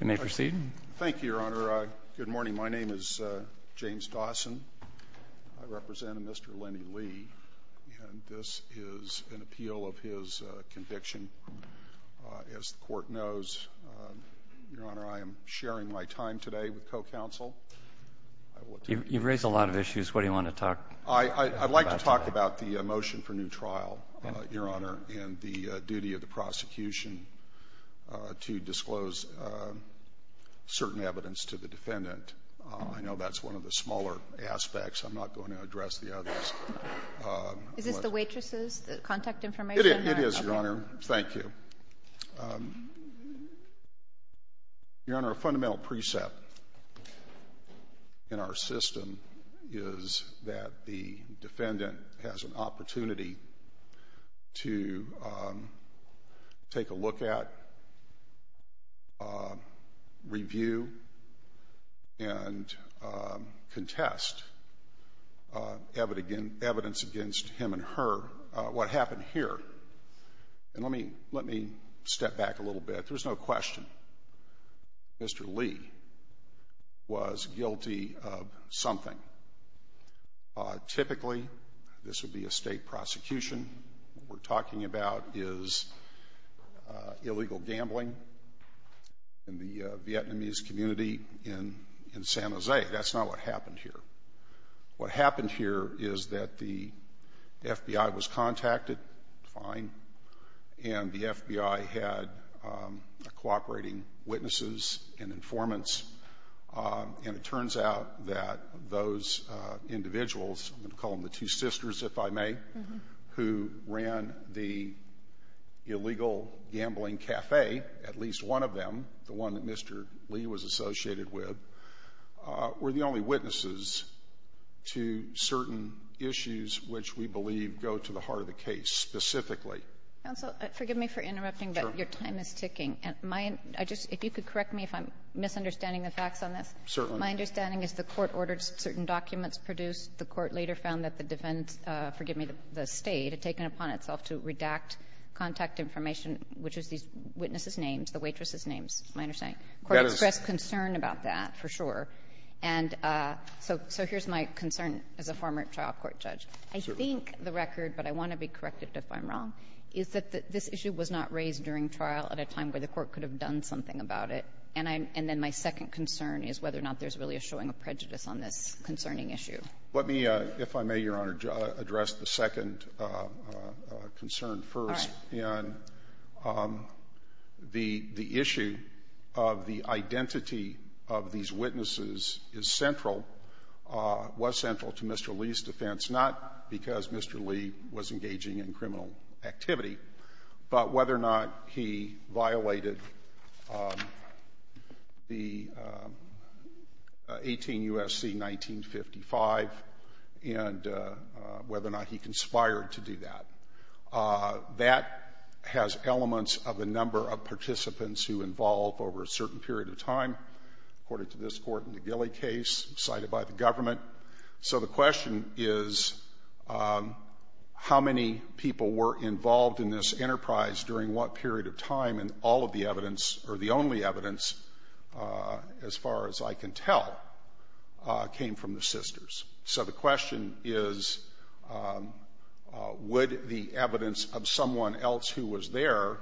Thank you, Your Honor. Good morning. My name is James Dawson. I represent Mr. Lenny Lee, and this is an appeal of his conviction. As the Court knows, Your Honor, I am sharing my time today with co-counsel. You've raised a lot of issues. What do you want to talk about today? I'd like to talk about the motion for new trial, Your Honor, and the duty of prosecution to disclose certain evidence to the defendant. I know that's one of the smaller aspects. I'm not going to address the others. Is this the waitress's contact information? It is, Your Honor. Thank you. Your Honor, a fundamental precept in our system is that the defendant has an opportunity to take a look at, review, and contest evidence against him and her, what happened here. And let me step back a little bit. There's no question. Mr. Lee was guilty of something. Typically, this would be a state prosecution. What we're talking about is illegal gambling in the Vietnamese community in San Jose. That's not what happened here. What happened here is that the FBI was contacted, fine, and the FBI had a cooperating witnesses and informants. And it turns out that those individuals, I'm going to call them the two sisters, if I may, who ran the illegal gambling cafe, at least one of them, the one that Mr. Lee was associated with, were the only witnesses to certain issues which we believe go to the heart of the case specifically. Counsel, forgive me for interrupting, but your time is ticking. If you could correct me if I'm misunderstanding the facts on this, my understanding is the court ordered certain documents produced. The court later found that the defense, forgive me, the State, had taken it upon itself to redact contact information, which is these witnesses' names, the waitress's names, is my understanding. The court expressed concern about that, for sure. And so here's my concern as a former trial court judge. I think the record, but I want to be corrected if I'm wrong, is that this issue was not raised during trial at a time where the court could have done something about it. And I'm — and then my second concern is whether or not there's really a showing of prejudice on this concerning issue. Let me, if I may, Your Honor, address the second concern first. All right. And the issue of the identity of these witnesses is central, was central to Mr. Lee's defense, not because Mr. Lee was engaging in criminal activity, but whether or not he violated the 18 U.S.C. 1955 and whether or not he conspired to do that. That has elements of the number of participants who involve over a certain period of time, according to this Court in the Gilley case cited by the government. So the question is, how many people were involved in this enterprise during what period of time, and all of the evidence, or the only evidence, as far as I can tell, came from the sisters. So the question is, would the evidence of someone else who was there,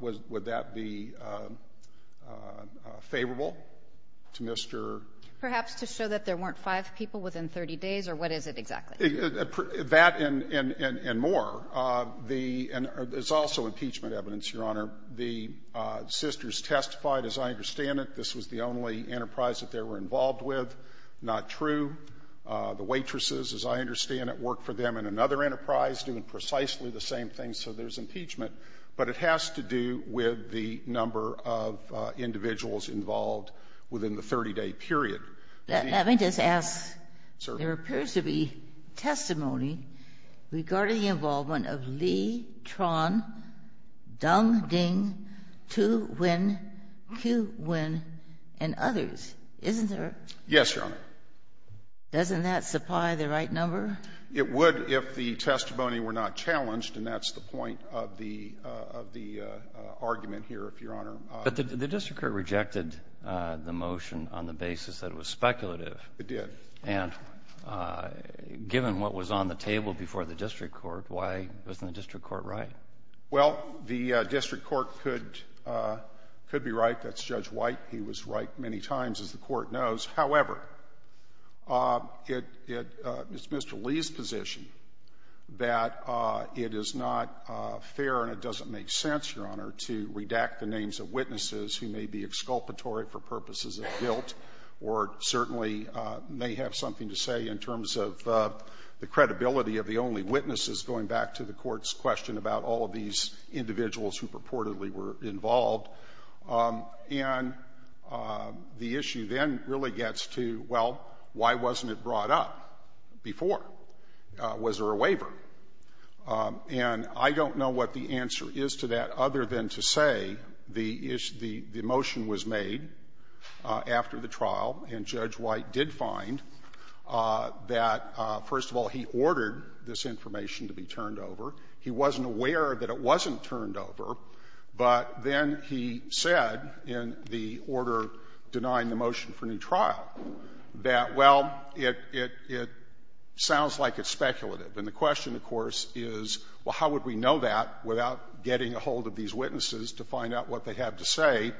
would that be favorable to Mr. Lee? Perhaps to show that there weren't five people within 30 days, or what is it exactly? That and more. The — and it's also impeachment evidence, Your Honor. The sisters testified, as I understand it, this was the only enterprise that they were involved with. Not true. The waitresses, as I understand it, worked for them in another enterprise doing precisely the same thing, so there's impeachment. But it has to do with the number of individuals involved within the 30-day period. Ginsburg. Let me just ask. There appears to be testimony regarding the involvement of Lee, Tran, Dung, Ding, Tu, Nguyen, Kieu, Nguyen, and others, isn't there? Yes, Your Honor. Doesn't that supply the right number? It would if the testimony were not challenged, and that's the point of the argument here, if Your Honor. But the district court rejected the motion on the basis that it was speculative. It did. And given what was on the table before the district court, why wasn't the district court right? Well, the district court could be right. That's Judge White. He was right many times, as the Court knows. However, it's Mr. Lee's position that it is not fair and it doesn't make sense, Your Honor, to redact the names of witnesses who may be exculpatory for purposes of guilt or certainly may have something to say in terms of the credibility of the only witnesses, going back to the Court's question about all of these individuals who purportedly were involved. And the issue then really gets to, well, why wasn't it brought up before? Was there a waiver? And I don't know what the answer is to that other than to say the motion was made after the trial, and Judge White did find that, first of all, he ordered this information to be turned over. He wasn't aware that it wasn't turned over, but then he said in the order denying the motion for new trial that, well, it sounds like it's speculative. And the question, of course, is, well, how would we know that without getting a hold of these witnesses to find out what they have to say,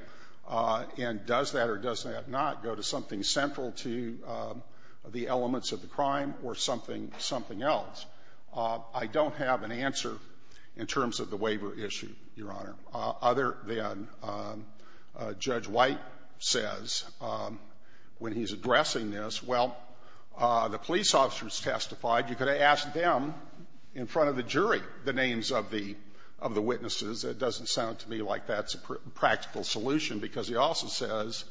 and does that or does that not go to something central to the elements of the crime or something else? I don't have an answer in terms of the waiver issue, Your Honor, other than Judge White says, when he's addressing this, well, the police officers testified. You could have asked them in front of the jury the names of the witnesses. It doesn't sound to me like that's a practical solution, because he also says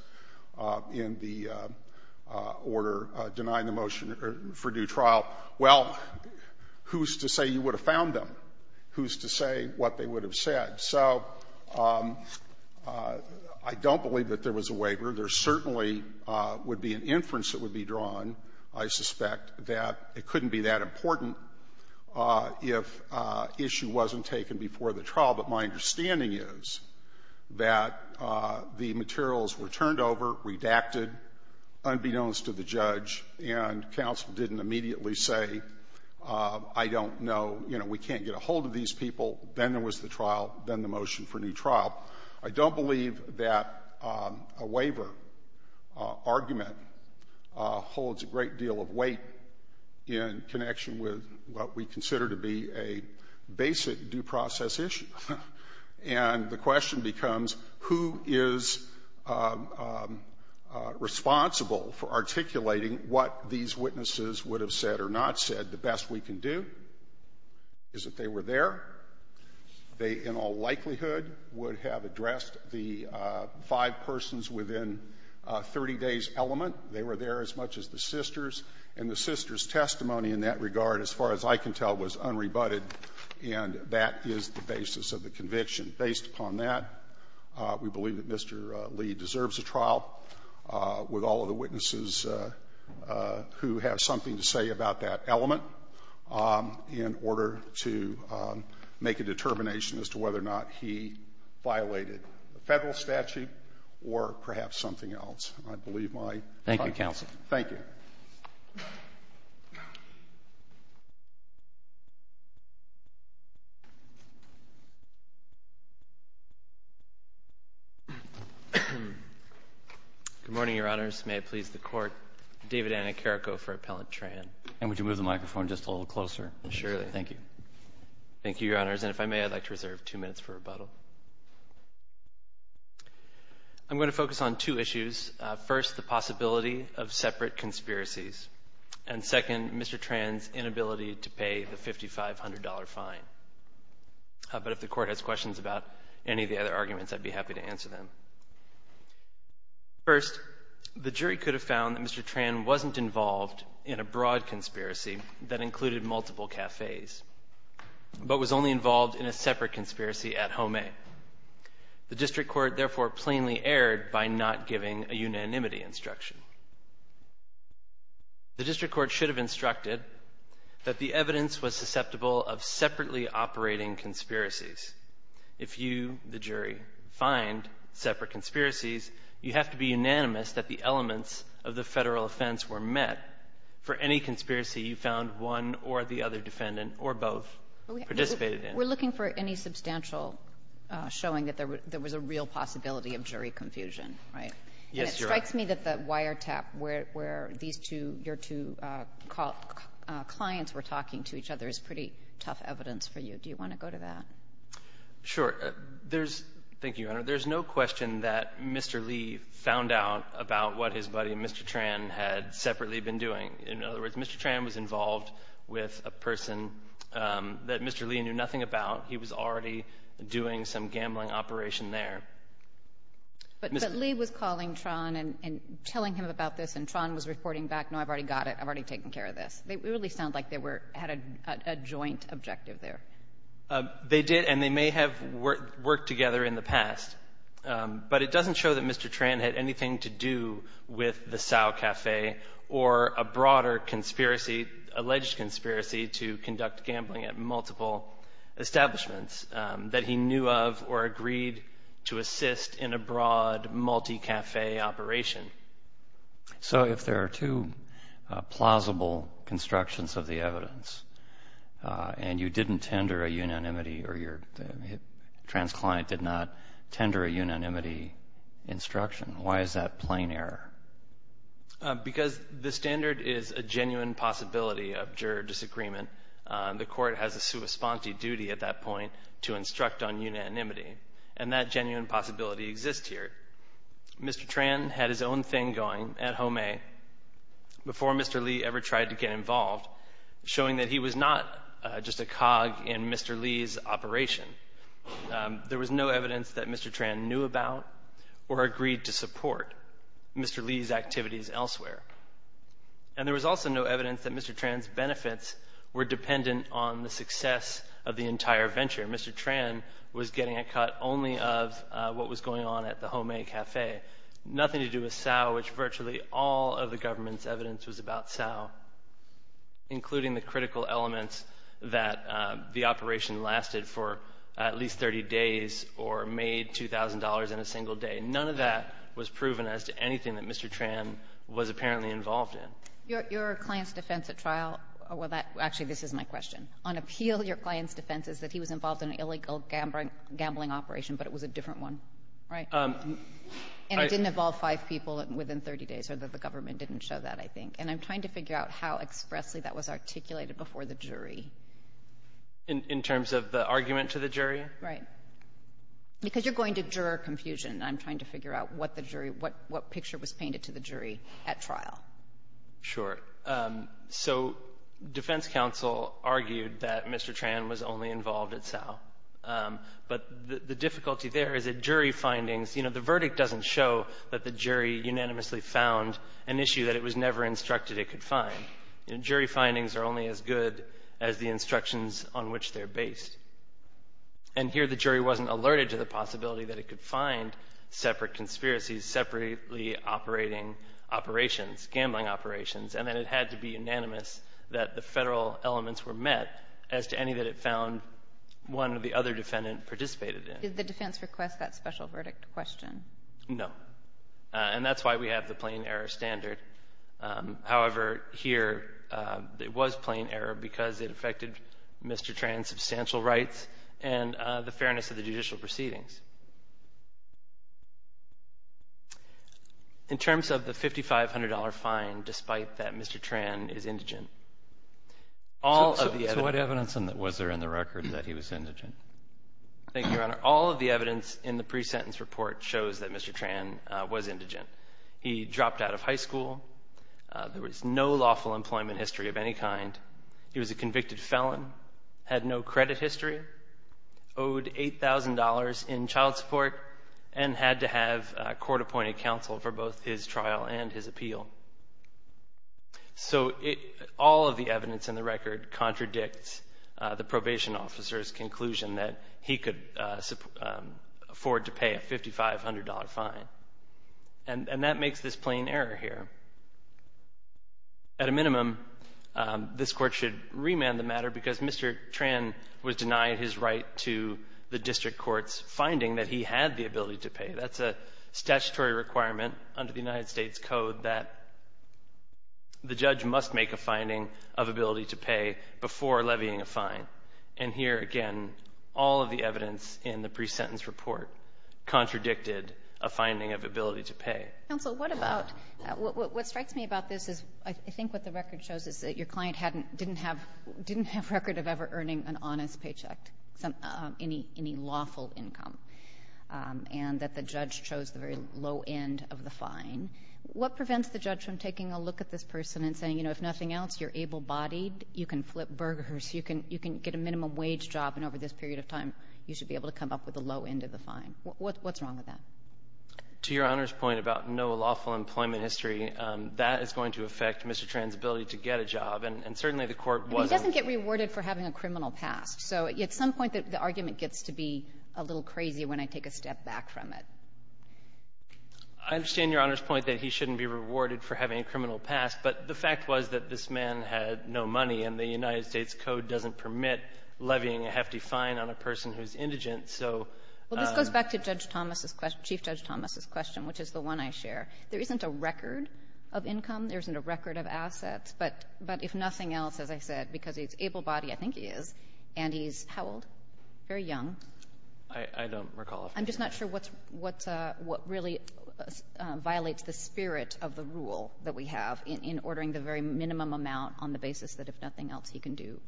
in the order denying the motion for due trial, well, who's to say you would have found them? Who's to say what they would have said? So I don't believe that there was a waiver. There certainly would be an inference that would be drawn, I suspect, that it couldn't be that important if issue wasn't taken before the trial. But my understanding is that the materials were turned over, redacted, unbeknownst to the judge, and counsel didn't immediately say, I don't know, you know, we can't get a hold of these people. Then there was the trial, then the motion for new trial. I don't believe that a waiver argument holds a great deal of weight in connection with what we consider to be a basic due process issue. And the question becomes, who is responsible for articulating what these witnesses would have said or not said the best we can do? Is it they were there? They in all likelihood would have addressed the five persons within a 30-day element. They were there as much as the sisters, and the sisters' testimony in that regard, as far as I can tell, was unrebutted, and that is the basis of the conviction. Based upon that, we believe that Mr. Lee deserves a trial, with all of the witnesses who have something to say about that element, in order to make a determination as to whether or not he violated a Federal statute or perhaps something else. And I believe my time is up. Thank you, counsel. Thank you. Good morning, Your Honors. May it please the Court, David Annicarico for Appellant Tran. And would you move the microphone just a little closer? Surely. Thank you. Thank you, Your Honors. And if I may, I'd like to reserve two minutes for rebuttal. I'm going to focus on two issues. First, the possibility of separate conspiracies. And second, Mr. Tran's inability to pay the $5,500 fine. But if the Court has questions about any of the other arguments, I'd be happy to answer them. First, the jury could have found that Mr. Tran wasn't involved in a broad conspiracy that included multiple cafes, but was only involved in a separate conspiracy at Home A. The District Court, therefore, plainly erred by not giving a unanimity instruction. The District Court should have instructed that the evidence was susceptible of separately operating conspiracies. If you, the jury, find separate conspiracies, you have to be sure that you found one or the other defendant, or both, participated in. We're looking for any substantial showing that there was a real possibility of jury confusion, right? Yes, Your Honor. And it strikes me that the wiretap where these two, your two clients were talking to each other is pretty tough evidence for you. Do you want to go to that? Sure. There's no question that Mr. Lee found out about what his buddy, Mr. Tran, had separately been doing. In other words, Mr. Tran was involved with a person that Mr. Lee knew nothing about. He was already doing some gambling operation there. But Lee was calling Tran and telling him about this, and Tran was reporting back, no, I've already got it. I've already taken care of this. It really sounded like they had a joint objective there. They did, and they may have worked together in the past. But it doesn't show that Mr. Lee was involved in a multi-café or a broader conspiracy, alleged conspiracy, to conduct gambling at multiple establishments that he knew of or agreed to assist in a broad multi-café operation. So if there are two plausible constructions of the evidence, and you didn't tender a unanimity, or your trans client did not tender a unanimity instruction, why is that plain error? Because the standard is a genuine possibility of juror disagreement. The court has a sua sponte duty at that point to instruct on unanimity, and that genuine possibility exists here. Mr. Tran had his own thing going at Home A before Mr. Lee ever tried to get involved, showing that he was not just a cog in Mr. Lee's operation. There was no evidence that Mr. Tran knew about or agreed to support Mr. Lee's activities elsewhere. And there was also no evidence that Mr. Tran's benefits were dependent on the success of the entire venture. Mr. Tran was getting a cut only of what was going on at the Home A café, nothing to do with Cao, which virtually all of the government's evidence was about Cao, including the critical elements that the operation lasted for at least 30 days or made $2,000 in a single day. None of that was proven as to anything that Mr. Tran was apparently involved in. Your client's defense at trial — well, actually, this is my question. On appeal, your client's defense is that he was involved in an illegal gambling operation, but it was a different one, right? And it didn't involve five people within 30 days, or the government didn't show that, I think. And I'm trying to figure out how expressly that was articulated before the jury. In terms of the argument to the jury? Right. Because you're going to juror confusion, and I'm trying to figure out what the jury — what picture was painted to the jury at trial. Sure. So, defense counsel argued that Mr. Tran was only involved at Cao. But the difficulty there is that jury findings — you know, the verdict doesn't show that the jury unanimously found an issue that it was never instructed it could find. You know, jury findings are only as good as the instructions on which they're based. And here, the jury wasn't alerted to the possibility that it could find separate conspiracies, separately operating operations, gambling operations, and that it had to be unanimous that the federal elements were met as to any that it found one of the other defendant participated in. Did the defense request that special verdict question? No. And that's why we have the plain error standard. However, here, it was plain error because it affected Mr. Tran's substantial rights and the fairness of the judicial proceedings. In terms of the $5,500 fine, despite that Mr. Tran is indigent, all of the — So what evidence was there in the record that he was indigent? Thank you, Your Honor. All of the evidence in the pre-sentence report shows that Mr. Tran was indigent. He dropped out of high school. There was no lawful employment history of any kind. He was a convicted felon, had no credit history, owed $8,000 in child support, and had to have court-appointed counsel for both his trial and his appeal. So all of the evidence in the record contradicts the assumption that he could afford to pay a $5,500 fine. And that makes this plain error here. At a minimum, this Court should remand the matter because Mr. Tran was denied his right to the district court's finding that he had the ability to pay. That's a statutory requirement under the United States Code that the judge must make a finding of ability to pay before levying a fine. And here, again, all of the evidence in the pre-sentence report contradicted a finding of ability to pay. Counsel, what about — what strikes me about this is I think what the record shows is that your client hadn't — didn't have — didn't have record of ever earning an honest paycheck, any lawful income, and that the judge chose the very low end of the fine. What prevents the judge from taking a look at this person and saying, you know, if nothing else, you're able-bodied, you can flip burgers, you can — you can get a minimum-wage job, and over this period of time, you should be able to come up with the low end of the fine? What's wrong with that? To Your Honor's point about no lawful employment history, that is going to affect Mr. Tran's ability to get a job. And certainly, the Court wasn't — I mean, he doesn't get rewarded for having a criminal past. So at some point, the argument gets to be a little crazy when I take a step back from it. I understand Your Honor's point that he shouldn't be rewarded for having a criminal past, but the fact was that this man had no money, and the United States Code doesn't permit levying a hefty fine on a person who's indigent. So — Well, this goes back to Judge Thomas's — Chief Judge Thomas's question, which is the one I share. There isn't a record of income. There isn't a record of assets. But if nothing else, as I said, because he's able-bodied — I think he is — and he's how old? Very young. I don't recall. I'm just not sure what's — what really violates the spirit of the rule that we have in ordering the very minimum amount on the basis that if nothing else, he can do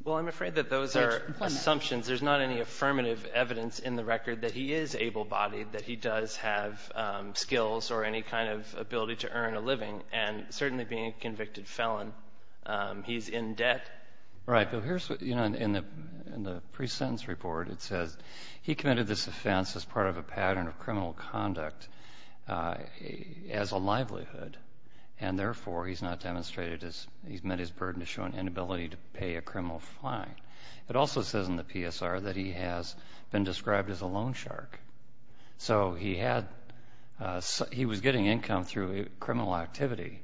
— Well, I'm afraid that those are assumptions. There's not any affirmative evidence in the record that he is able-bodied, that he does have skills or any kind of ability to earn a living. And certainly, being a convicted felon, he's in debt. Right. But here's what — you know, in the pre-sentence report, it says he committed this offense as part of a pattern of criminal conduct as a livelihood, and therefore, he's not demonstrated his — he's met his burden to show an inability to pay a criminal fine. It also says in the PSR that he has been described as a loan shark. So he had — he was getting income through criminal activity.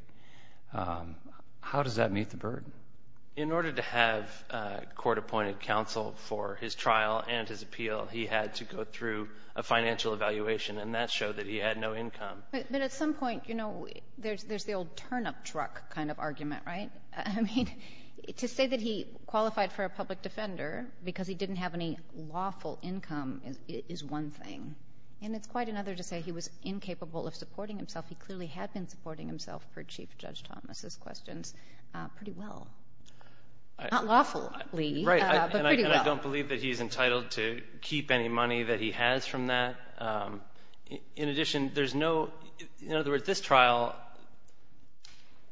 How does that meet the burden? In order to have court-appointed counsel for his trial and his appeal, he had to go through a financial evaluation, and that showed that he had no income. But at some point, you know, there's the old turnip truck kind of argument, right? I mean, to say that he qualified for a public defender because he didn't have any lawful income is one thing, and it's quite another to say he was incapable of supporting himself. He clearly had been supporting himself, per Chief Judge Thomas's questions, pretty well. Not lawfully, but pretty well. Right. And I don't believe that he's entitled to keep any money that he has from that. In addition, there's no — in other words, this trial,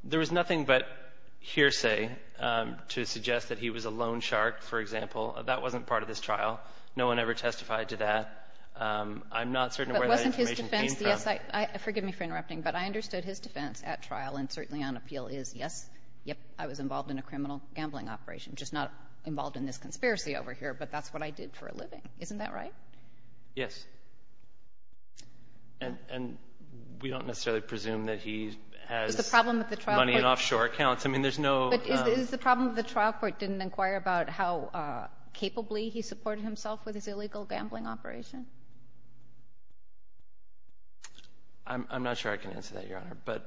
there was nothing but hearsay to suggest that he was a loan shark, for example. That wasn't part of this trial. No one ever testified to that. I'm not certain where that information came from. But, yes, I — forgive me for interrupting, but I understood his defense at trial and certainly on appeal is, yes, yep, I was involved in a criminal gambling operation. Just not involved in this conspiracy over here, but that's what I did for a living. Isn't that right? Yes. And we don't necessarily presume that he has money in offshore accounts. I mean, there's no — But is the problem that the trial court didn't inquire about how capably he supported himself with his illegal gambling operation? I'm not sure I can answer that, Your Honor. But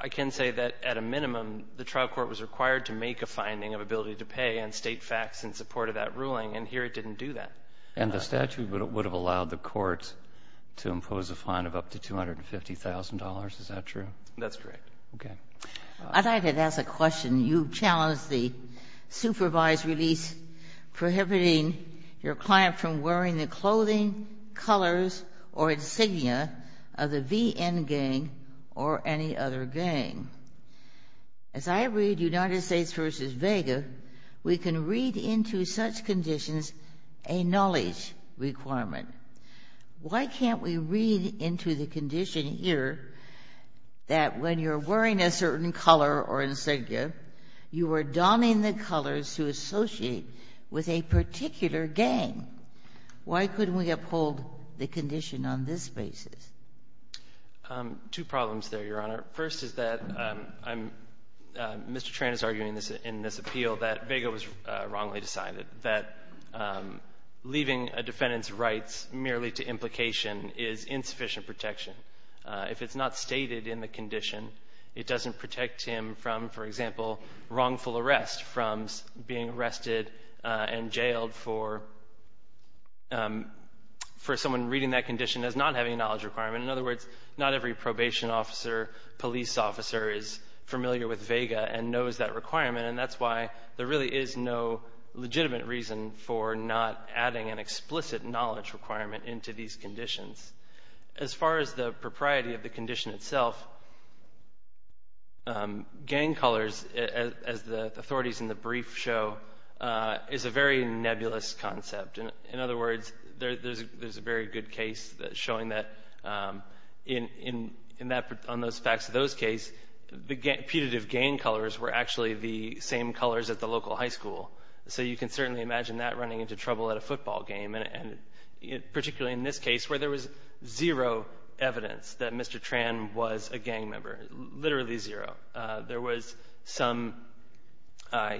I can say that at a minimum, the trial court was required to make a finding of ability to pay and state facts in support of that ruling, and here it didn't do that. And the statute would have allowed the court to impose a fine of up to $250,000. Is that true? That's correct. Okay. I'd like to ask a question. You challenged the supervised release prohibiting your client from wearing the clothing colors or insignia of the VN gang or any other gang. As I read United States v. Vega, we can read into such conditions a knowledge requirement. Why can't we read into the condition here that when you're wearing a certain color or insignia, you are donning the colors to associate with a particular gang? Why couldn't we uphold the condition on this basis? Two problems there, Your Honor. First is that I'm Mr. Tran is arguing in this appeal that Vega was wrongly decided, that leaving a defendant's rights merely to implication is insufficient protection. If it's not stated in the condition, it doesn't protect him from, for example, wrongful arrest from being arrested and jailed for someone reading that condition as not having a knowledge requirement. In other words, not every probation officer, police officer is familiar with Vega and knows that requirement. And that's why there really is no legitimate reason for not adding an explicit knowledge requirement into these conditions. As far as the propriety of the condition itself, gang colors, as the authorities in the brief show, is a very nebulous concept. In other words, there's a very good case that's showing that in those facts of those case, the putative gang colors were actually the same colors at the local high school. So you can certainly imagine that running into trouble at a football game, particularly in this case, where there was zero evidence that Mr. Tran was a gang member, literally zero. There was some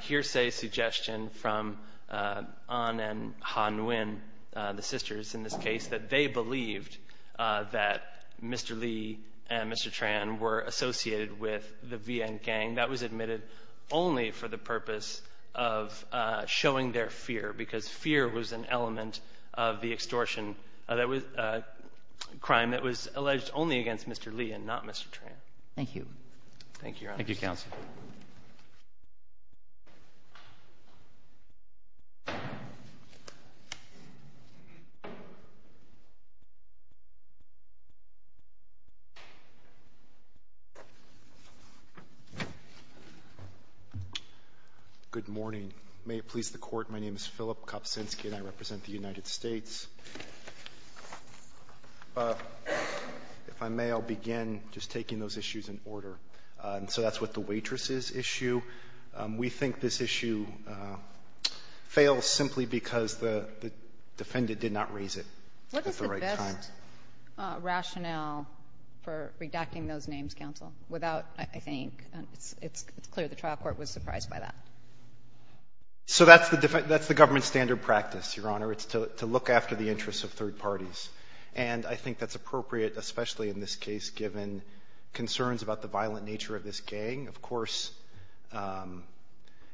hearsay suggestion from Ahn and Ha Nguyen, the sisters in this case, that they believed that Mr. Lee and Mr. Tran were associated with the VN gang. That was admitted only for the purpose of showing their fear, because fear was an element of the extortion crime that was alleged only against Mr. Lee and not Mr. Tran. Thank you. Thank you, Your Honor. Thank you, counsel. Good morning. May it please the Court. My name is Philip Kopczynski, and I represent the United States. If I may, I'll begin just taking those issues in order. So that's what the waitresses issue. We think this issue fails simply because the defendant did not raise it at the right time. What is the best rationale for redacting those names, counsel, without, I think, it's clear the trial court was surprised by that. So that's the government standard practice, Your Honor. It's to look after the interests of third parties. And I think that's appropriate, especially in this case, given concerns about the violent nature of this gang. Of course,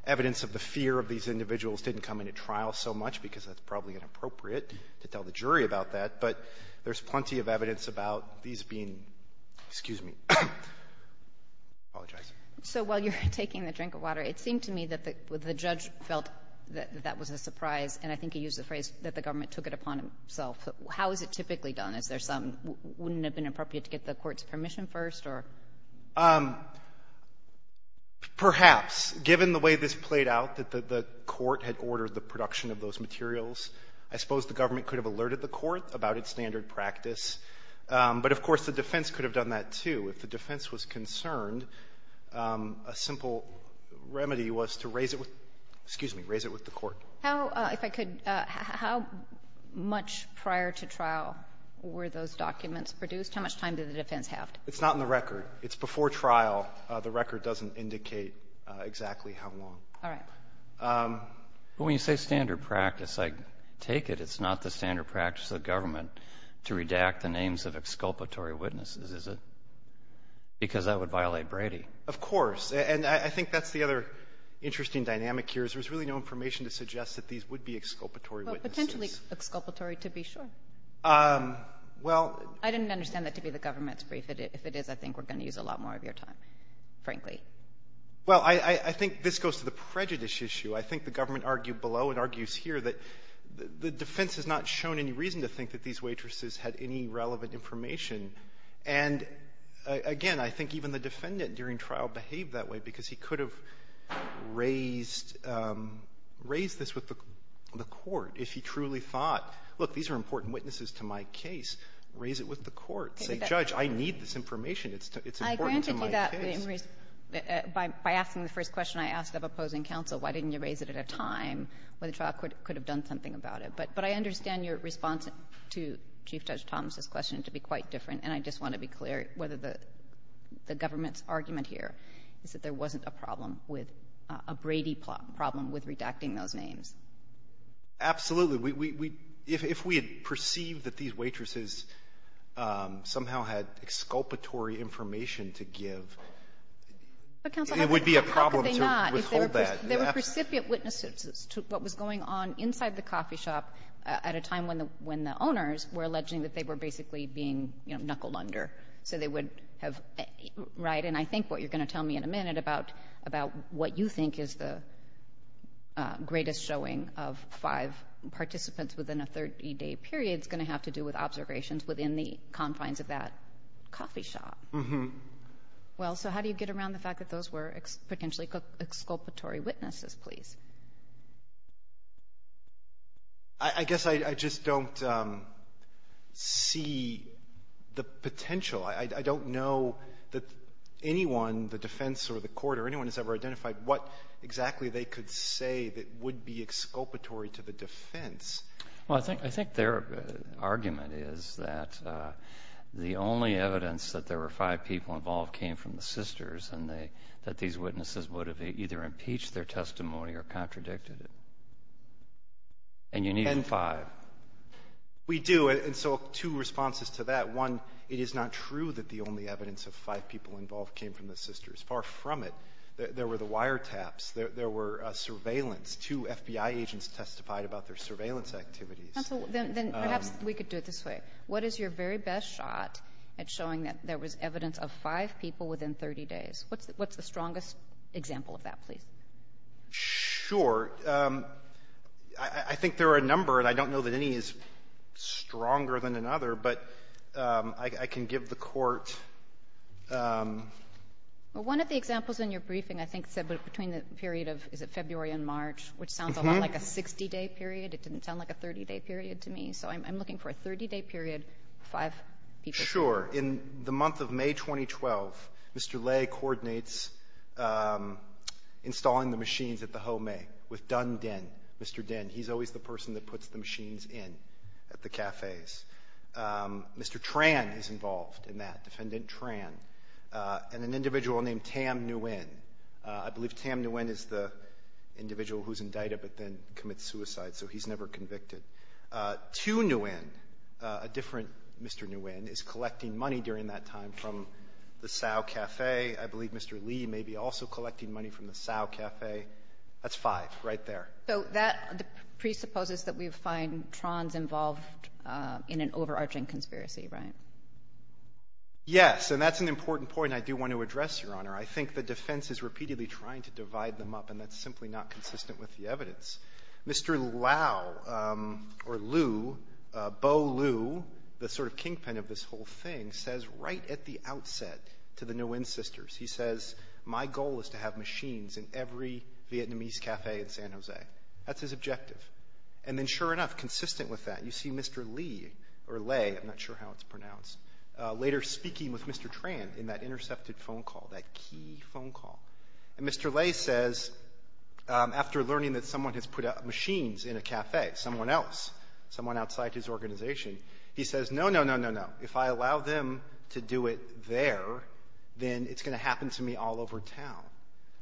evidence of the fear of these individuals didn't come into trial so much, because that's probably inappropriate to tell the jury about that. But there's plenty of evidence about these being, excuse me, I apologize. So while you're taking the drink of water, it seemed to me that the judge felt that that was a surprise, and I think he used the phrase that the government took it upon himself. How is it typically done? Is there some — wouldn't it have been appropriate to get the court's permission first, or? Perhaps. Given the way this played out, that the court had ordered the production of those materials, I suppose the government could have alerted the court about its standard practice. But, of course, the defense could have done that, too. If the defense was concerned, a simple remedy was to raise it with — excuse me, raise it with the court. How, if I could — how much prior to trial were those documents produced? How much time did the defense have? It's not in the record. It's before trial. The record doesn't indicate exactly how long. All right. But when you say standard practice, I take it it's not the standard practice of the government to redact the names of exculpatory witnesses, is it? Because that would violate Brady. Of course. And I think that's the other interesting dynamic here, is there's really no information to suggest that these would be exculpatory witnesses. Well, potentially exculpatory, to be sure. Well — I didn't understand that to be the government's brief. If it is, I think we're going to use a lot more of your time, frankly. Well, I think this goes to the prejudice issue. I think the government argued below and argues here that the defense has not shown any reason to think that these waitresses had any relevant information. And again, I think even the defendant during trial behaved that way because he could have raised — raised this with the court if he truly thought, look, these are important witnesses to my case, raise it with the court, say, Judge, I need this information. It's important to my case. I granted you that by asking the first question I asked of opposing counsel, why didn't you raise it at a time when the trial could have done something about it? But I understand your response to Chief Judge Thomas' question to be quite different and I just want to be clear whether the government's argument here is that there wasn't a problem with — a Brady problem with redacting those names. Absolutely. We — if we had perceived that these waitresses somehow had exculpatory information to give, it would be a problem to withhold that. There were precipient witnesses to what was going on inside the coffee shop at a time when the owners were alleging that they were basically being knuckled under. So they would have — right? And I think what you're going to tell me in a minute about what you think is the greatest showing of five participants within a 30-day period is going to have to do with observations within the confines of that coffee shop. Well, so how do you get around the fact that those were potentially exculpatory witnesses, please? I guess I just don't see the potential. I don't know that anyone, the defense or the court or anyone has ever identified what exactly they could say that would be exculpatory to the defense. Well, I think their argument is that the only evidence that there were five people involved came from the sisters and that these witnesses would have either impeached their testimony or contradicted it. And you need five. We do. And so two responses to that. One, it is not true that the only evidence of five people involved came from the sisters. Far from it. There were the wiretaps. There were surveillance. Two FBI agents testified about their surveillance activities. Counsel, then perhaps we could do it this way. What is your very best shot at showing that there was evidence of five people within 30 days? What's the strongest example of that, please? Sure. I think there are a number, and I don't know that any is stronger than another, but I can give the court ---- Well, one of the examples in your briefing I think said between the period of, is it February and March, which sounds a lot like a 60-day period. It didn't sound like a 30-day period to me. So I'm looking for a 30-day period, five people. Sure. In the month of May 2012, Mr. Lay coordinates installing the machines at the Ho May with Dunn Dinh. Mr. Dinh. He's always the person that puts the machines in at the cafes. Mr. Tran is involved in that, Defendant Tran, and an individual named Tam Nguyen. I believe Tam Nguyen is the individual who's indicted but then commits suicide, so he's never convicted. Tu Nguyen, a different Mr. Nguyen, is collecting money during that time from the Cao Cafe. I believe Mr. Lee may be also collecting money from the Cao Cafe. That's five right there. So that presupposes that we find Tran's involved in an overarching conspiracy, right? Yes, and that's an important point I do want to address, Your Honor. I think the defense is repeatedly trying to divide them up, and that's simply not consistent with the evidence. Mr. Lau, or Lu, Bo Lu, the sort of kingpin of this whole thing, says right at the outset to the Nguyen sisters, he says, my goal is to have machines in every Vietnamese cafe in San Jose. That's his objective. And then, sure enough, consistent with that, you see Mr. Lee, or Lay, I'm not sure how it's pronounced, later speaking with Mr. Tran in that intercepted phone call, that key phone call. And Mr. Lay says, after learning that someone has put machines in a cafe, someone else, someone outside his organization, he says, no, no, no, no, no. If I allow them to do it there, then it's going to happen to me all over town.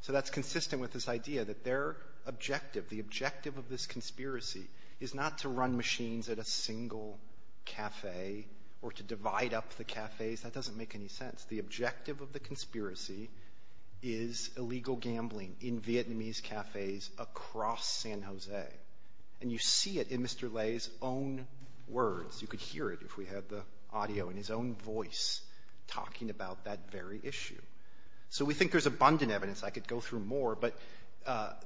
So that's consistent with this idea that their objective, the objective of this conspiracy, is not to run machines at a single cafe or to divide up the cafes. That doesn't make any sense. The objective of the conspiracy is illegal gambling in Vietnamese cafes across San Jose. And you see it in Mr. Lay's own words. You could hear it if we had the audio in his own voice talking about that very issue. So we think there's abundant evidence. I could go through more, but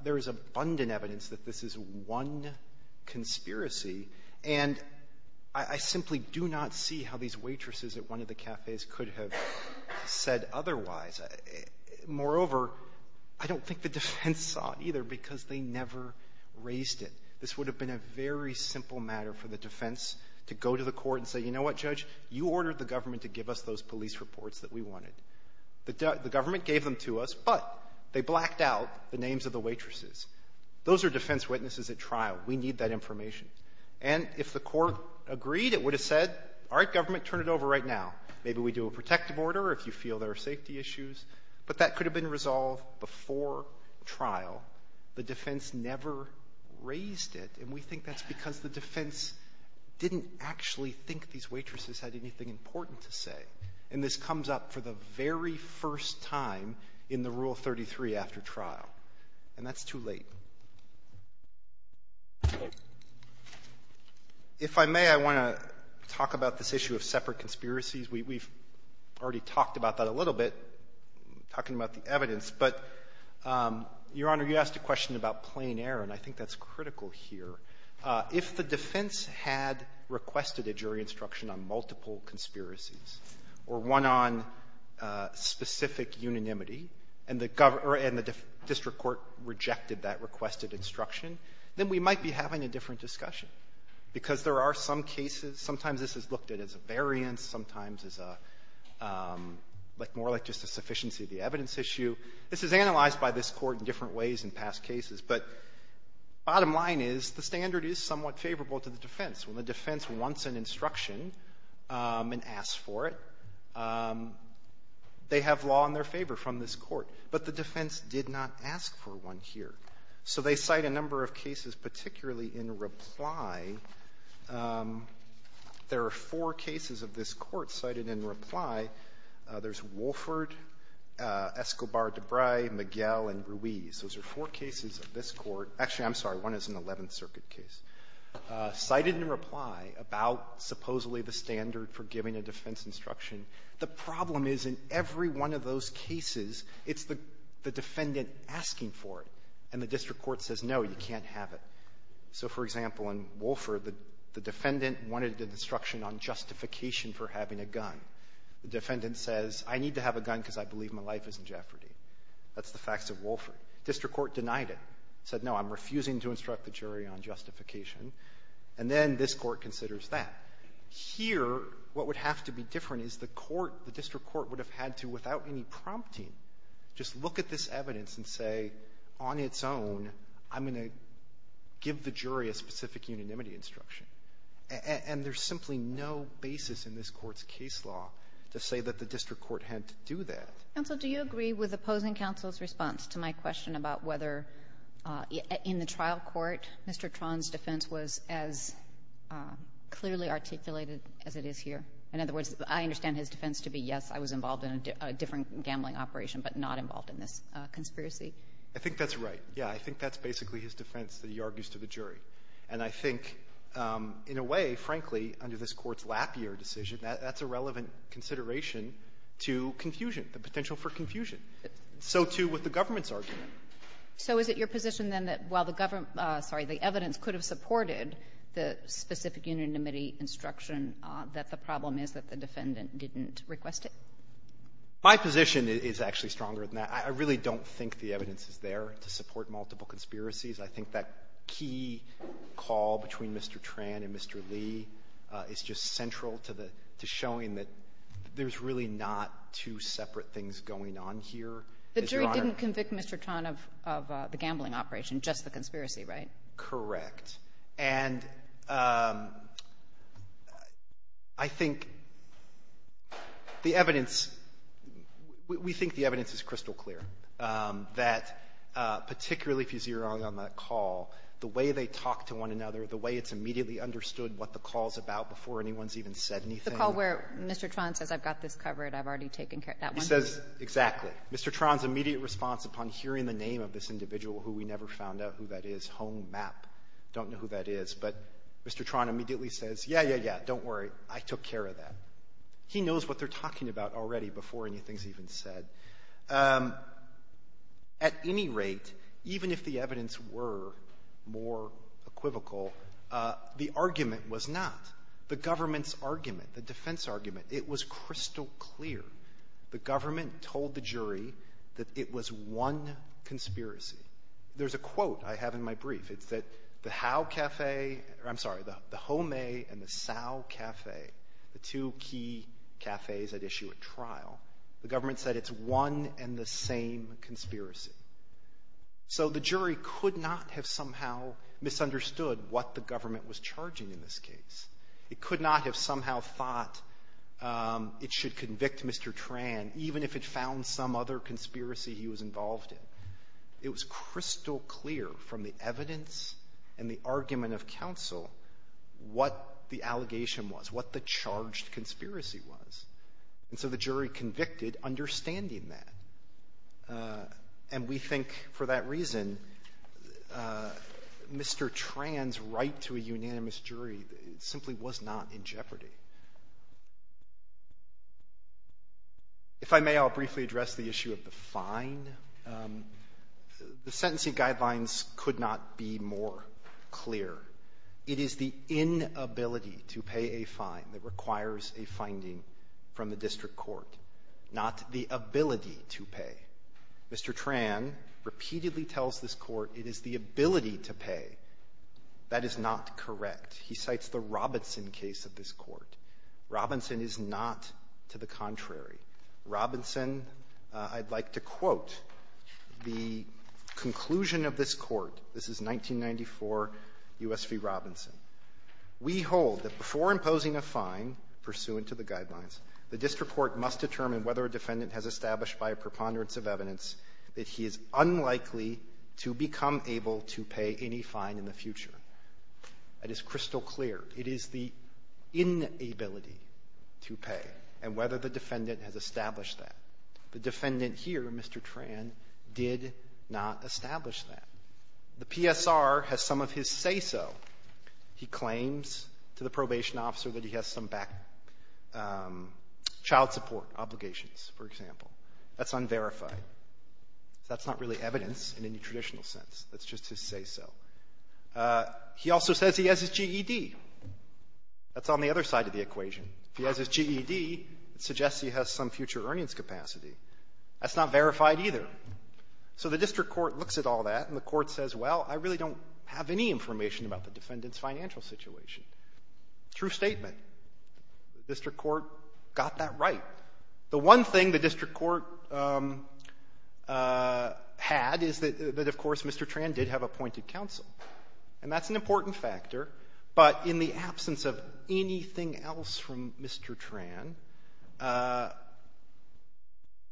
there is abundant evidence that this is one conspiracy, and I simply do not see how these waitresses at one of the cafes could have said otherwise. Moreover, I don't think the defense saw it either, because they never raised it. This would have been a very simple matter for the defense to go to the court and say, you know what, judge, you ordered the government to give us those police reports that we wanted. The government gave them to us, but they blacked out the names of the waitresses. Those are defense witnesses at trial. We need that information. And if the court agreed, it would have said, all right, government, turn it over right now. Maybe we do a protective order if you feel there are safety issues. But that could have been resolved before trial. The defense never raised it, and we think that's because the defense didn't actually think these waitresses had anything important to say. And this comes up for the very first time in the Rule 33 after trial. And that's too late. If I may, I want to talk about this issue of separate conspiracies. We've already talked about that a little bit, talking about the evidence. But, Your Honor, you asked a question about plain error, and I think that's critical here. If the defense had requested a jury instruction on multiple conspiracies or one on specific unanimity, and the district court rejected that request, then we might be having a different discussion. Because there are some cases, sometimes this is looked at as a variance, sometimes as more like just a sufficiency of the evidence issue. This is analyzed by this court in different ways in past cases. But bottom line is, the standard is somewhat favorable to the defense. When the defense wants an instruction and asks for it, they have law in their favor from this court. But the defense did not ask for one here. So they cite a number of cases, particularly in reply. There are four cases of this court cited in reply. There's Wolford, Escobar-Dubray, Miguel, and Ruiz. Those are four cases of this court. Actually, I'm sorry, one is an Eleventh Circuit case. Cited in reply about supposedly the standard for giving a defense instruction. The problem is, in every one of those cases, it's the defendant asking for it. And the district court says, no, you can't have it. So, for example, in Wolford, the defendant wanted an instruction on justification for having a gun. The defendant says, I need to have a gun because I believe my life is in jeopardy. That's the facts of Wolford. District court denied it. Said, no, I'm refusing to instruct the jury on justification. And then this court considers that. Here, what would have to be different is the court, the district court, would have had to, without any prompting, just look at this evidence and say, on its own, I'm going to give the jury a specific unanimity instruction. And there's simply no basis in this Court's case law to say that the district court had to do that. Kagan. Counsel, do you agree with opposing counsel's response to my question about whether in the trial court, Mr. Tron's defense was as clearly articulated as it is here? In other words, I understand his defense to be, yes, I was involved in a different gambling operation, but not involved in this conspiracy. I think that's right. Yeah. I think that's basically his defense that he argues to the jury. And I think, in a way, frankly, under this Court's lappier decision, that's a relevant consideration to confusion, the potential for confusion. So, too, with the government's argument. So is it your position, then, that while the government — sorry, the evidence could have supported the specific unanimity instruction, that the problem is that the defendant didn't request it? My position is actually stronger than that. I really don't think the evidence is there to support multiple conspiracies. I think that key call between Mr. Tran and Mr. Lee is just central to the — to showing that there's really not two separate things going on here, Your Honor. The jury didn't convict Mr. Tran of the gambling operation, just the conspiracy, right? Correct. And I think the evidence — we think the evidence is crystal clear, that particularly if you see wrong on that call, the way they talk to one another, the way it's immediately understood what the call's about before anyone's even said anything. The call where Mr. Tran says, I've got this covered, I've already taken care of that one. He says exactly. Mr. Tran's immediate response upon hearing the name of this individual who we never found out who that is, Home Map, don't know who that is, but Mr. Tran immediately says, yeah, yeah, yeah, don't worry, I took care of that. He knows what they're talking about already before anything's even said. At any rate, even if the evidence were more equivocal, the argument was not. The government's argument, the defense argument, it was crystal clear. The government told the jury that it was one conspiracy. There's a quote I have in my brief. It's that the Howe Cafe — I'm sorry, the Home and the Sow Cafe, the two key cafes at issue at trial, the government said it's one and the same conspiracy. So the jury could not have somehow misunderstood what the government was charging in this case. It could not have somehow thought it should convict Mr. Tran, even if it found some other conspiracy he was involved in. It was crystal clear from the evidence and the argument of counsel what the allegation was, what the charged conspiracy was. And so the jury convicted, understanding that. And we think for that reason, Mr. Tran's right to a unanimous jury simply was not in jeopardy. If I may, I'll briefly address the issue of the fine. The sentencing guidelines could not be more clear. It is the inability to pay a fine that requires a finding from the district court, not the ability to pay. Mr. Tran repeatedly tells this Court it is the ability to pay. That is not correct. He cites the Robinson case of this Court. Robinson is not to the contrary. Robinson, I'd like to quote the conclusion of this Court. This is 1994 U.S. v. Robinson. We hold that before imposing a fine pursuant to the guidelines, the district court must determine whether a defendant has established by a preponderance of evidence that he is unlikely to become able to pay any fine in the future. That is crystal clear. It is the inability to pay and whether the defendant has established that. The defendant here, Mr. Tran, did not establish that. The PSR has some of his say-so. He claims to the probation officer that he has some back child support obligations, for example. That's unverified. That's not really evidence in any traditional sense. That's just his say-so. He also says he has his GED. That's on the other side of the equation. If he has his GED, it suggests he has some future earnings capacity. That's not verified either. So the district court looks at all that and the court says, well, I really don't have any information about the defendant's financial situation. True statement. District court got that right. The one thing the district court had is that, of course, Mr. Tran did have appointed counsel, and that's an important factor. But in the absence of anything else from Mr. Tran,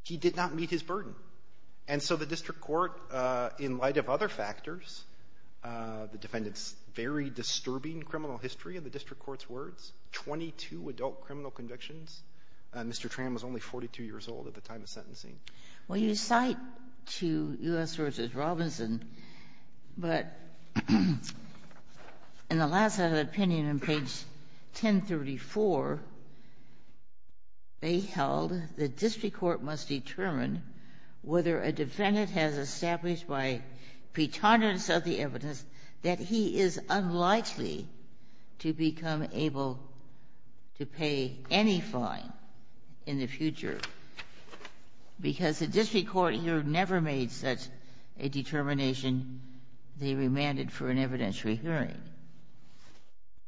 he did not meet his burden. And so the district court, in light of other factors, the defendant's very disturbing criminal history, in the district court's words, 22 adult criminal convictions. Mr. Tran was only 42 years old at the time of sentencing. Well, you cite to U.S. v. Robinson, but in the last opinion, on page 1034, they held the district court must determine whether a defendant has established by pretendence of the evidence that he is unlikely to become able to pay any fine in the future, because the district court here never made such a determination. They remanded for an evidentiary hearing.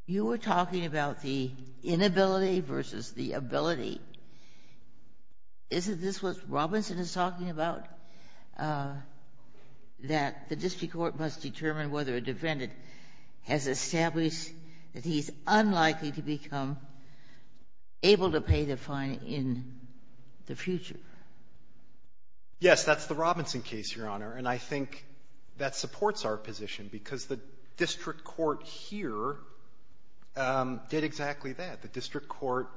You were talking about the inability versus the ability. Isn't this what Robinson is talking about, that the district court must determine whether a defendant has established that he's unlikely to become able to pay the fine in the future? Yes, that's the Robinson case, Your Honor, and I think that supports our position, because the district court here did exactly that. The district court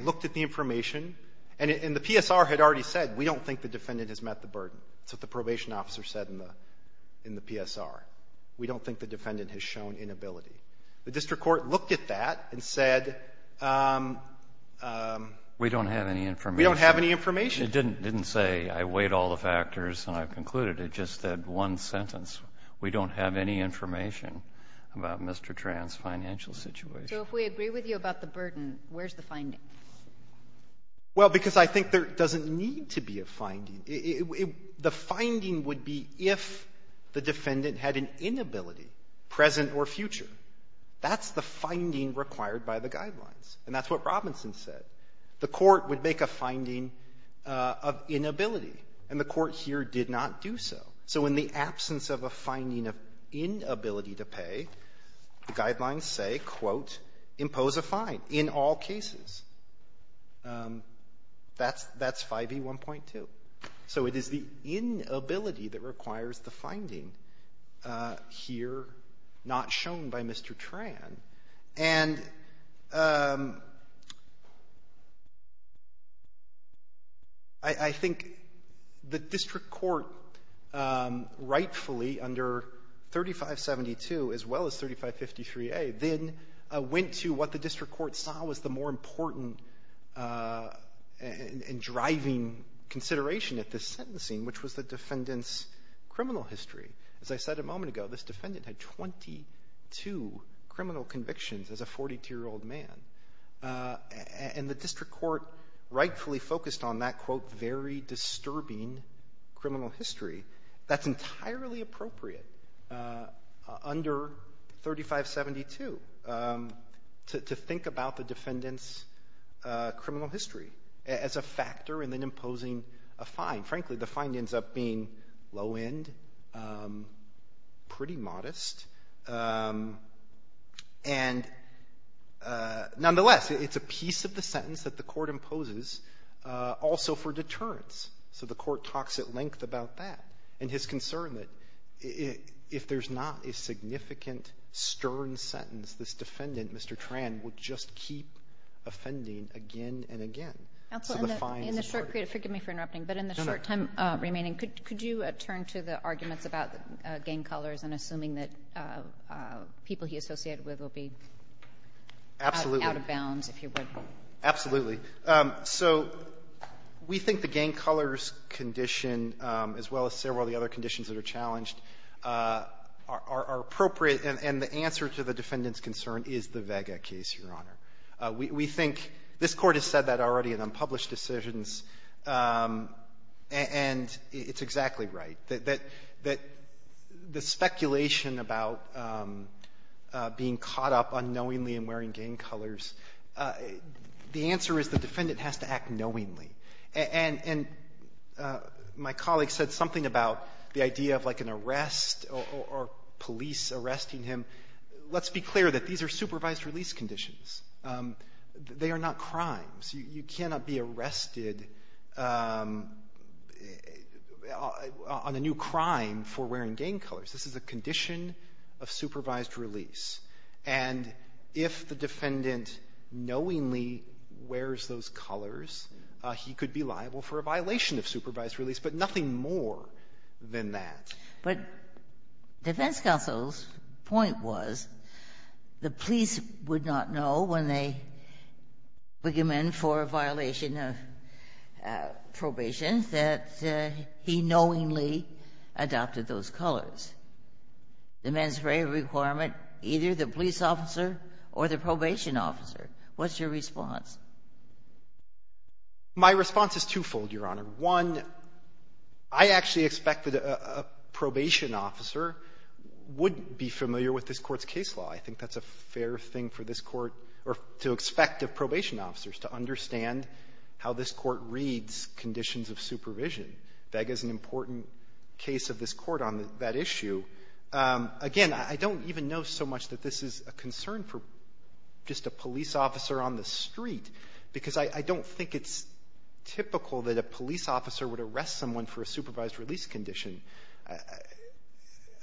looked at the information, and the PSR had already said, we don't think the defendant has met the burden. That's what the probation officer said in the PSR. We don't think the defendant has shown inability. The district court looked at that and said, we don't have any information. It didn't say, I weighed all the factors and I've concluded. It just said one sentence. We don't have any information about Mr. Tran's financial situation. So if we agree with you about the burden, where's the finding? Well, because I think there doesn't need to be a finding. The finding would be if the defendant had an inability, present or future. That's the finding required by the guidelines, and that's what Robinson said. The court would make a finding of inability, and the court here did not do so. So in the absence of a finding of inability to pay, the guidelines say, quote, impose a fine in all cases. That's 5E1.2. So it is the inability that requires the finding here not shown by Mr. Tran. And I think the district court rightfully under 3572 as well as 3553A then went to what the district court saw was the more important and driving consideration at this sentencing, which was the defendant's criminal history. As I said a moment ago, this defendant had 22 criminal convictions as a 42-year-old man. And the district court rightfully focused on that, quote, very disturbing criminal history. That's entirely appropriate under 3572 to think about the defendant's criminal history as a factor in then imposing a fine. Frankly, the fine ends up being low-end, pretty modest. And nonetheless, it's a piece of the sentence that the court imposes also for deterrence. So the court talks at length about that and his concern that if there's not a significant, stern sentence, this defendant, Mr. Tran, would just keep offending again and again. over. Could you turn to the arguments about the gang colors and assuming that people he associated with will be out of bounds, if you would? Absolutely. So we think the gang colors condition as well as several of the other conditions that are challenged are appropriate, and the answer to the defendant's concern is the Vega case, Your Honor. We think this Court has said that already. In unpublished decisions, and it's exactly right, that the speculation about being caught up unknowingly in wearing gang colors, the answer is the defendant has to act knowingly, and my colleague said something about the idea of like an arrest or police arresting him. Let's be clear that these are supervised release conditions. They are not crimes. You cannot be arrested on a new crime for wearing gang colors. This is a condition of supervised release. And if the defendant knowingly wears those colors, he could be liable for a violation of supervised release, but nothing more than that. But defense counsel's point was the police would not know when they bring him in for a violation of probation that he knowingly adopted those colors. The mens rea requirement, either the police officer or the probation officer. What's your response? My response is twofold, Your Honor. One, I actually expected a probation officer would be familiar with this Court's case law. I think that's a fair thing for this Court, or to expect of probation officers, to understand how this Court reads conditions of supervision. Vega's an important case of this Court on that issue. Again, I don't even know so much that this is a concern for just a police officer on the street, because I don't think it's typical that a police officer would arrest someone for a supervised release condition.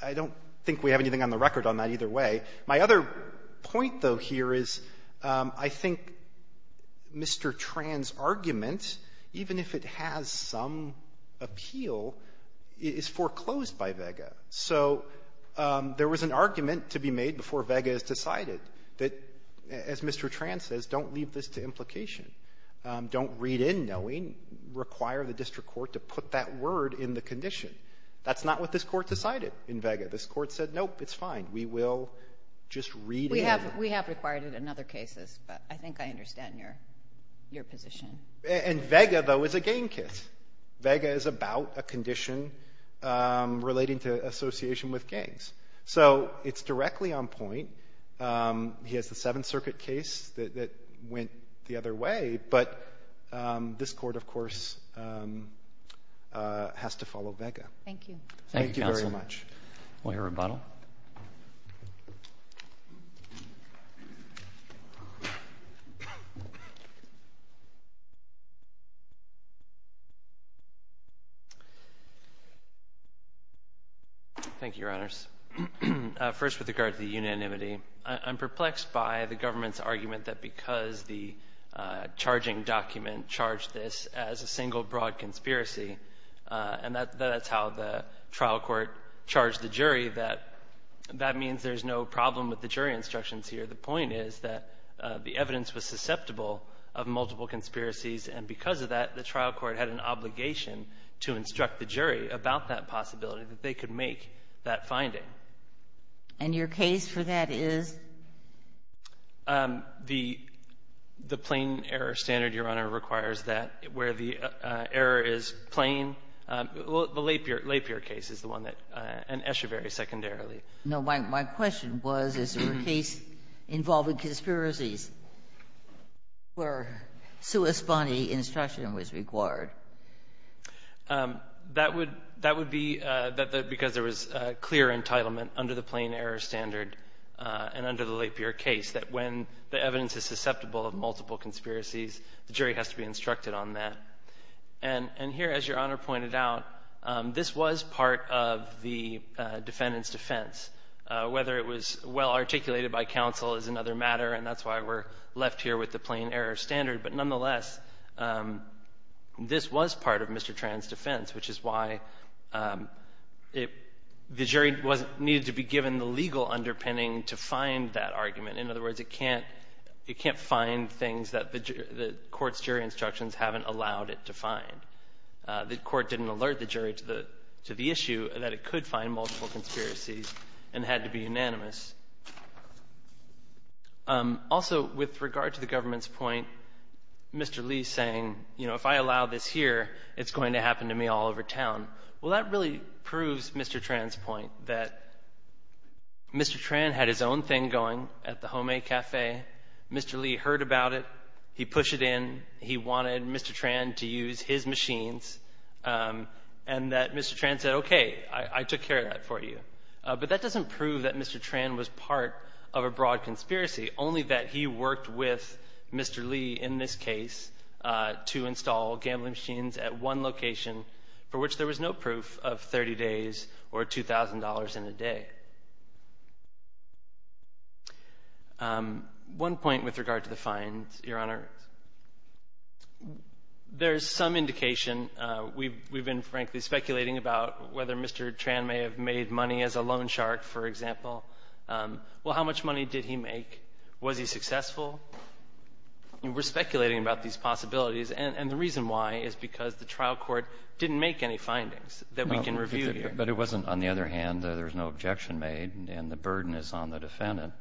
I don't think we have anything on the record on that either way. My other point, though, here is I think Mr. Tran's argument, even if it has some appeal, is foreclosed by Vega. So there was an argument to be made before Vega is decided that, as Mr. Tran says, don't leave this to implication. Don't read in knowing, require the district court to put that word in the condition. That's not what this Court decided in Vega. This Court said, nope, it's fine, we will just read in. We have required it in other cases, but I think I understand your position. And Vega, though, is a gang case. Vega is about a condition relating to association with gangs. So it's directly on point. He has the Seventh Circuit case that went the other way, but this Court, of course, has to follow Vega. Thank you. Thank you very much. Thank you, Counsel. Thank you, Your Honors. First, with regard to the unanimity, I'm perplexed by the government's argument that because the charging document charged this as a single broad conspiracy, and that's how the trial court charged the jury, that that means there's no problem with the jury instructions here. The point is that the evidence was susceptible of multiple conspiracies, and because of that, the trial court had an obligation to instruct the jury about that possibility, that they could make that finding. And your case for that is? The plain error standard, Your Honor, requires that where the error is plain. The Lapierre case is the one that and Echeverry secondarily. No. My question was, is there a case involving conspiracies where suespone instruction was required? That would be because there was clear entitlement under the plain error standard and under the Lapierre case, that when the evidence is susceptible of multiple conspiracies, the jury has to be instructed on that. And here, as Your Honor pointed out, this was part of the defendant's defense. Whether it was well articulated by counsel is another matter, and that's why we're left here with the plain error standard. But nonetheless, this was part of Mr. Tran's defense, which is why the jury needed to be given the legal underpinning to find that argument. In other words, it can't find things that the court's jury instructions haven't allowed it to find. The court didn't alert the jury to the issue that it could find multiple conspiracies and had to be unanimous. Also, with regard to the government's point, Mr. Lee's saying, you know, if I allow this here, it's going to happen to me all over town. Well, that really proves Mr. Tran's point, that Mr. Tran had his own thing going at the homemade cafe. Mr. Lee heard about it. He pushed it in. He wanted Mr. Tran to use his machines. And that Mr. Tran said, okay, I took care of that for you. But that doesn't prove that Mr. Tran was part of a broad conspiracy, only that he worked with Mr. Lee, in this case, to install gambling machines at one location for which there was no proof of 30 days or $2,000 in a day. One point with regard to the fines, Your Honor. There's some indication. We've been, frankly, speculating about whether Mr. Tran may have made money as a loan shark, for example. Well, how much money did he make? Was he successful? We're speculating about these possibilities. And the reason why is because the trial court didn't make any findings that we can review here. But it wasn't, on the other hand, there was no objection made, and the burden is on the defendant.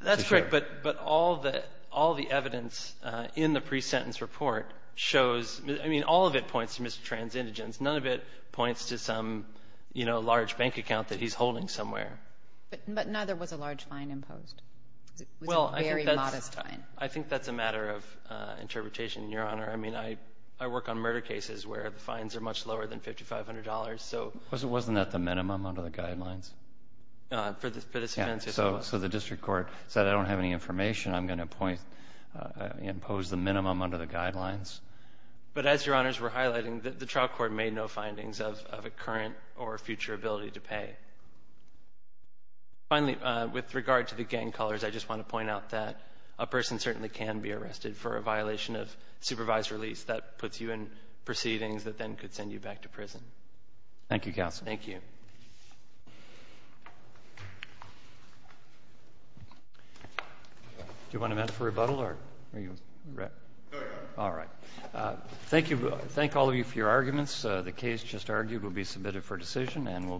That's correct. But all the evidence in the pre-sentence report shows, I mean, all of it points to Mr. Tran's indigence. None of it points to some, you know, large bank account that he's holding somewhere. But none of it was a large fine imposed. It was a very modest fine. Well, I think that's a matter of interpretation, Your Honor. I mean, I work on murder cases where the fines are much lower than $5,500. Wasn't that the minimum under the guidelines? For the participants, yes. So the district court said, I don't have any information. I'm going to impose the minimum under the guidelines. But as Your Honors were highlighting, the trial court made no findings of a current or future ability to pay. Finally, with regard to the gang colors, I just want to point out that a person certainly can be arrested for a violation of supervised release. That puts you in proceedings that then could send you back to prison. Thank you, counsel. Thank you. Do you want a minute for rebuttal? All right. Thank you. Thank all of you for your arguments. The case just argued will be submitted for decision and will be in brief recess.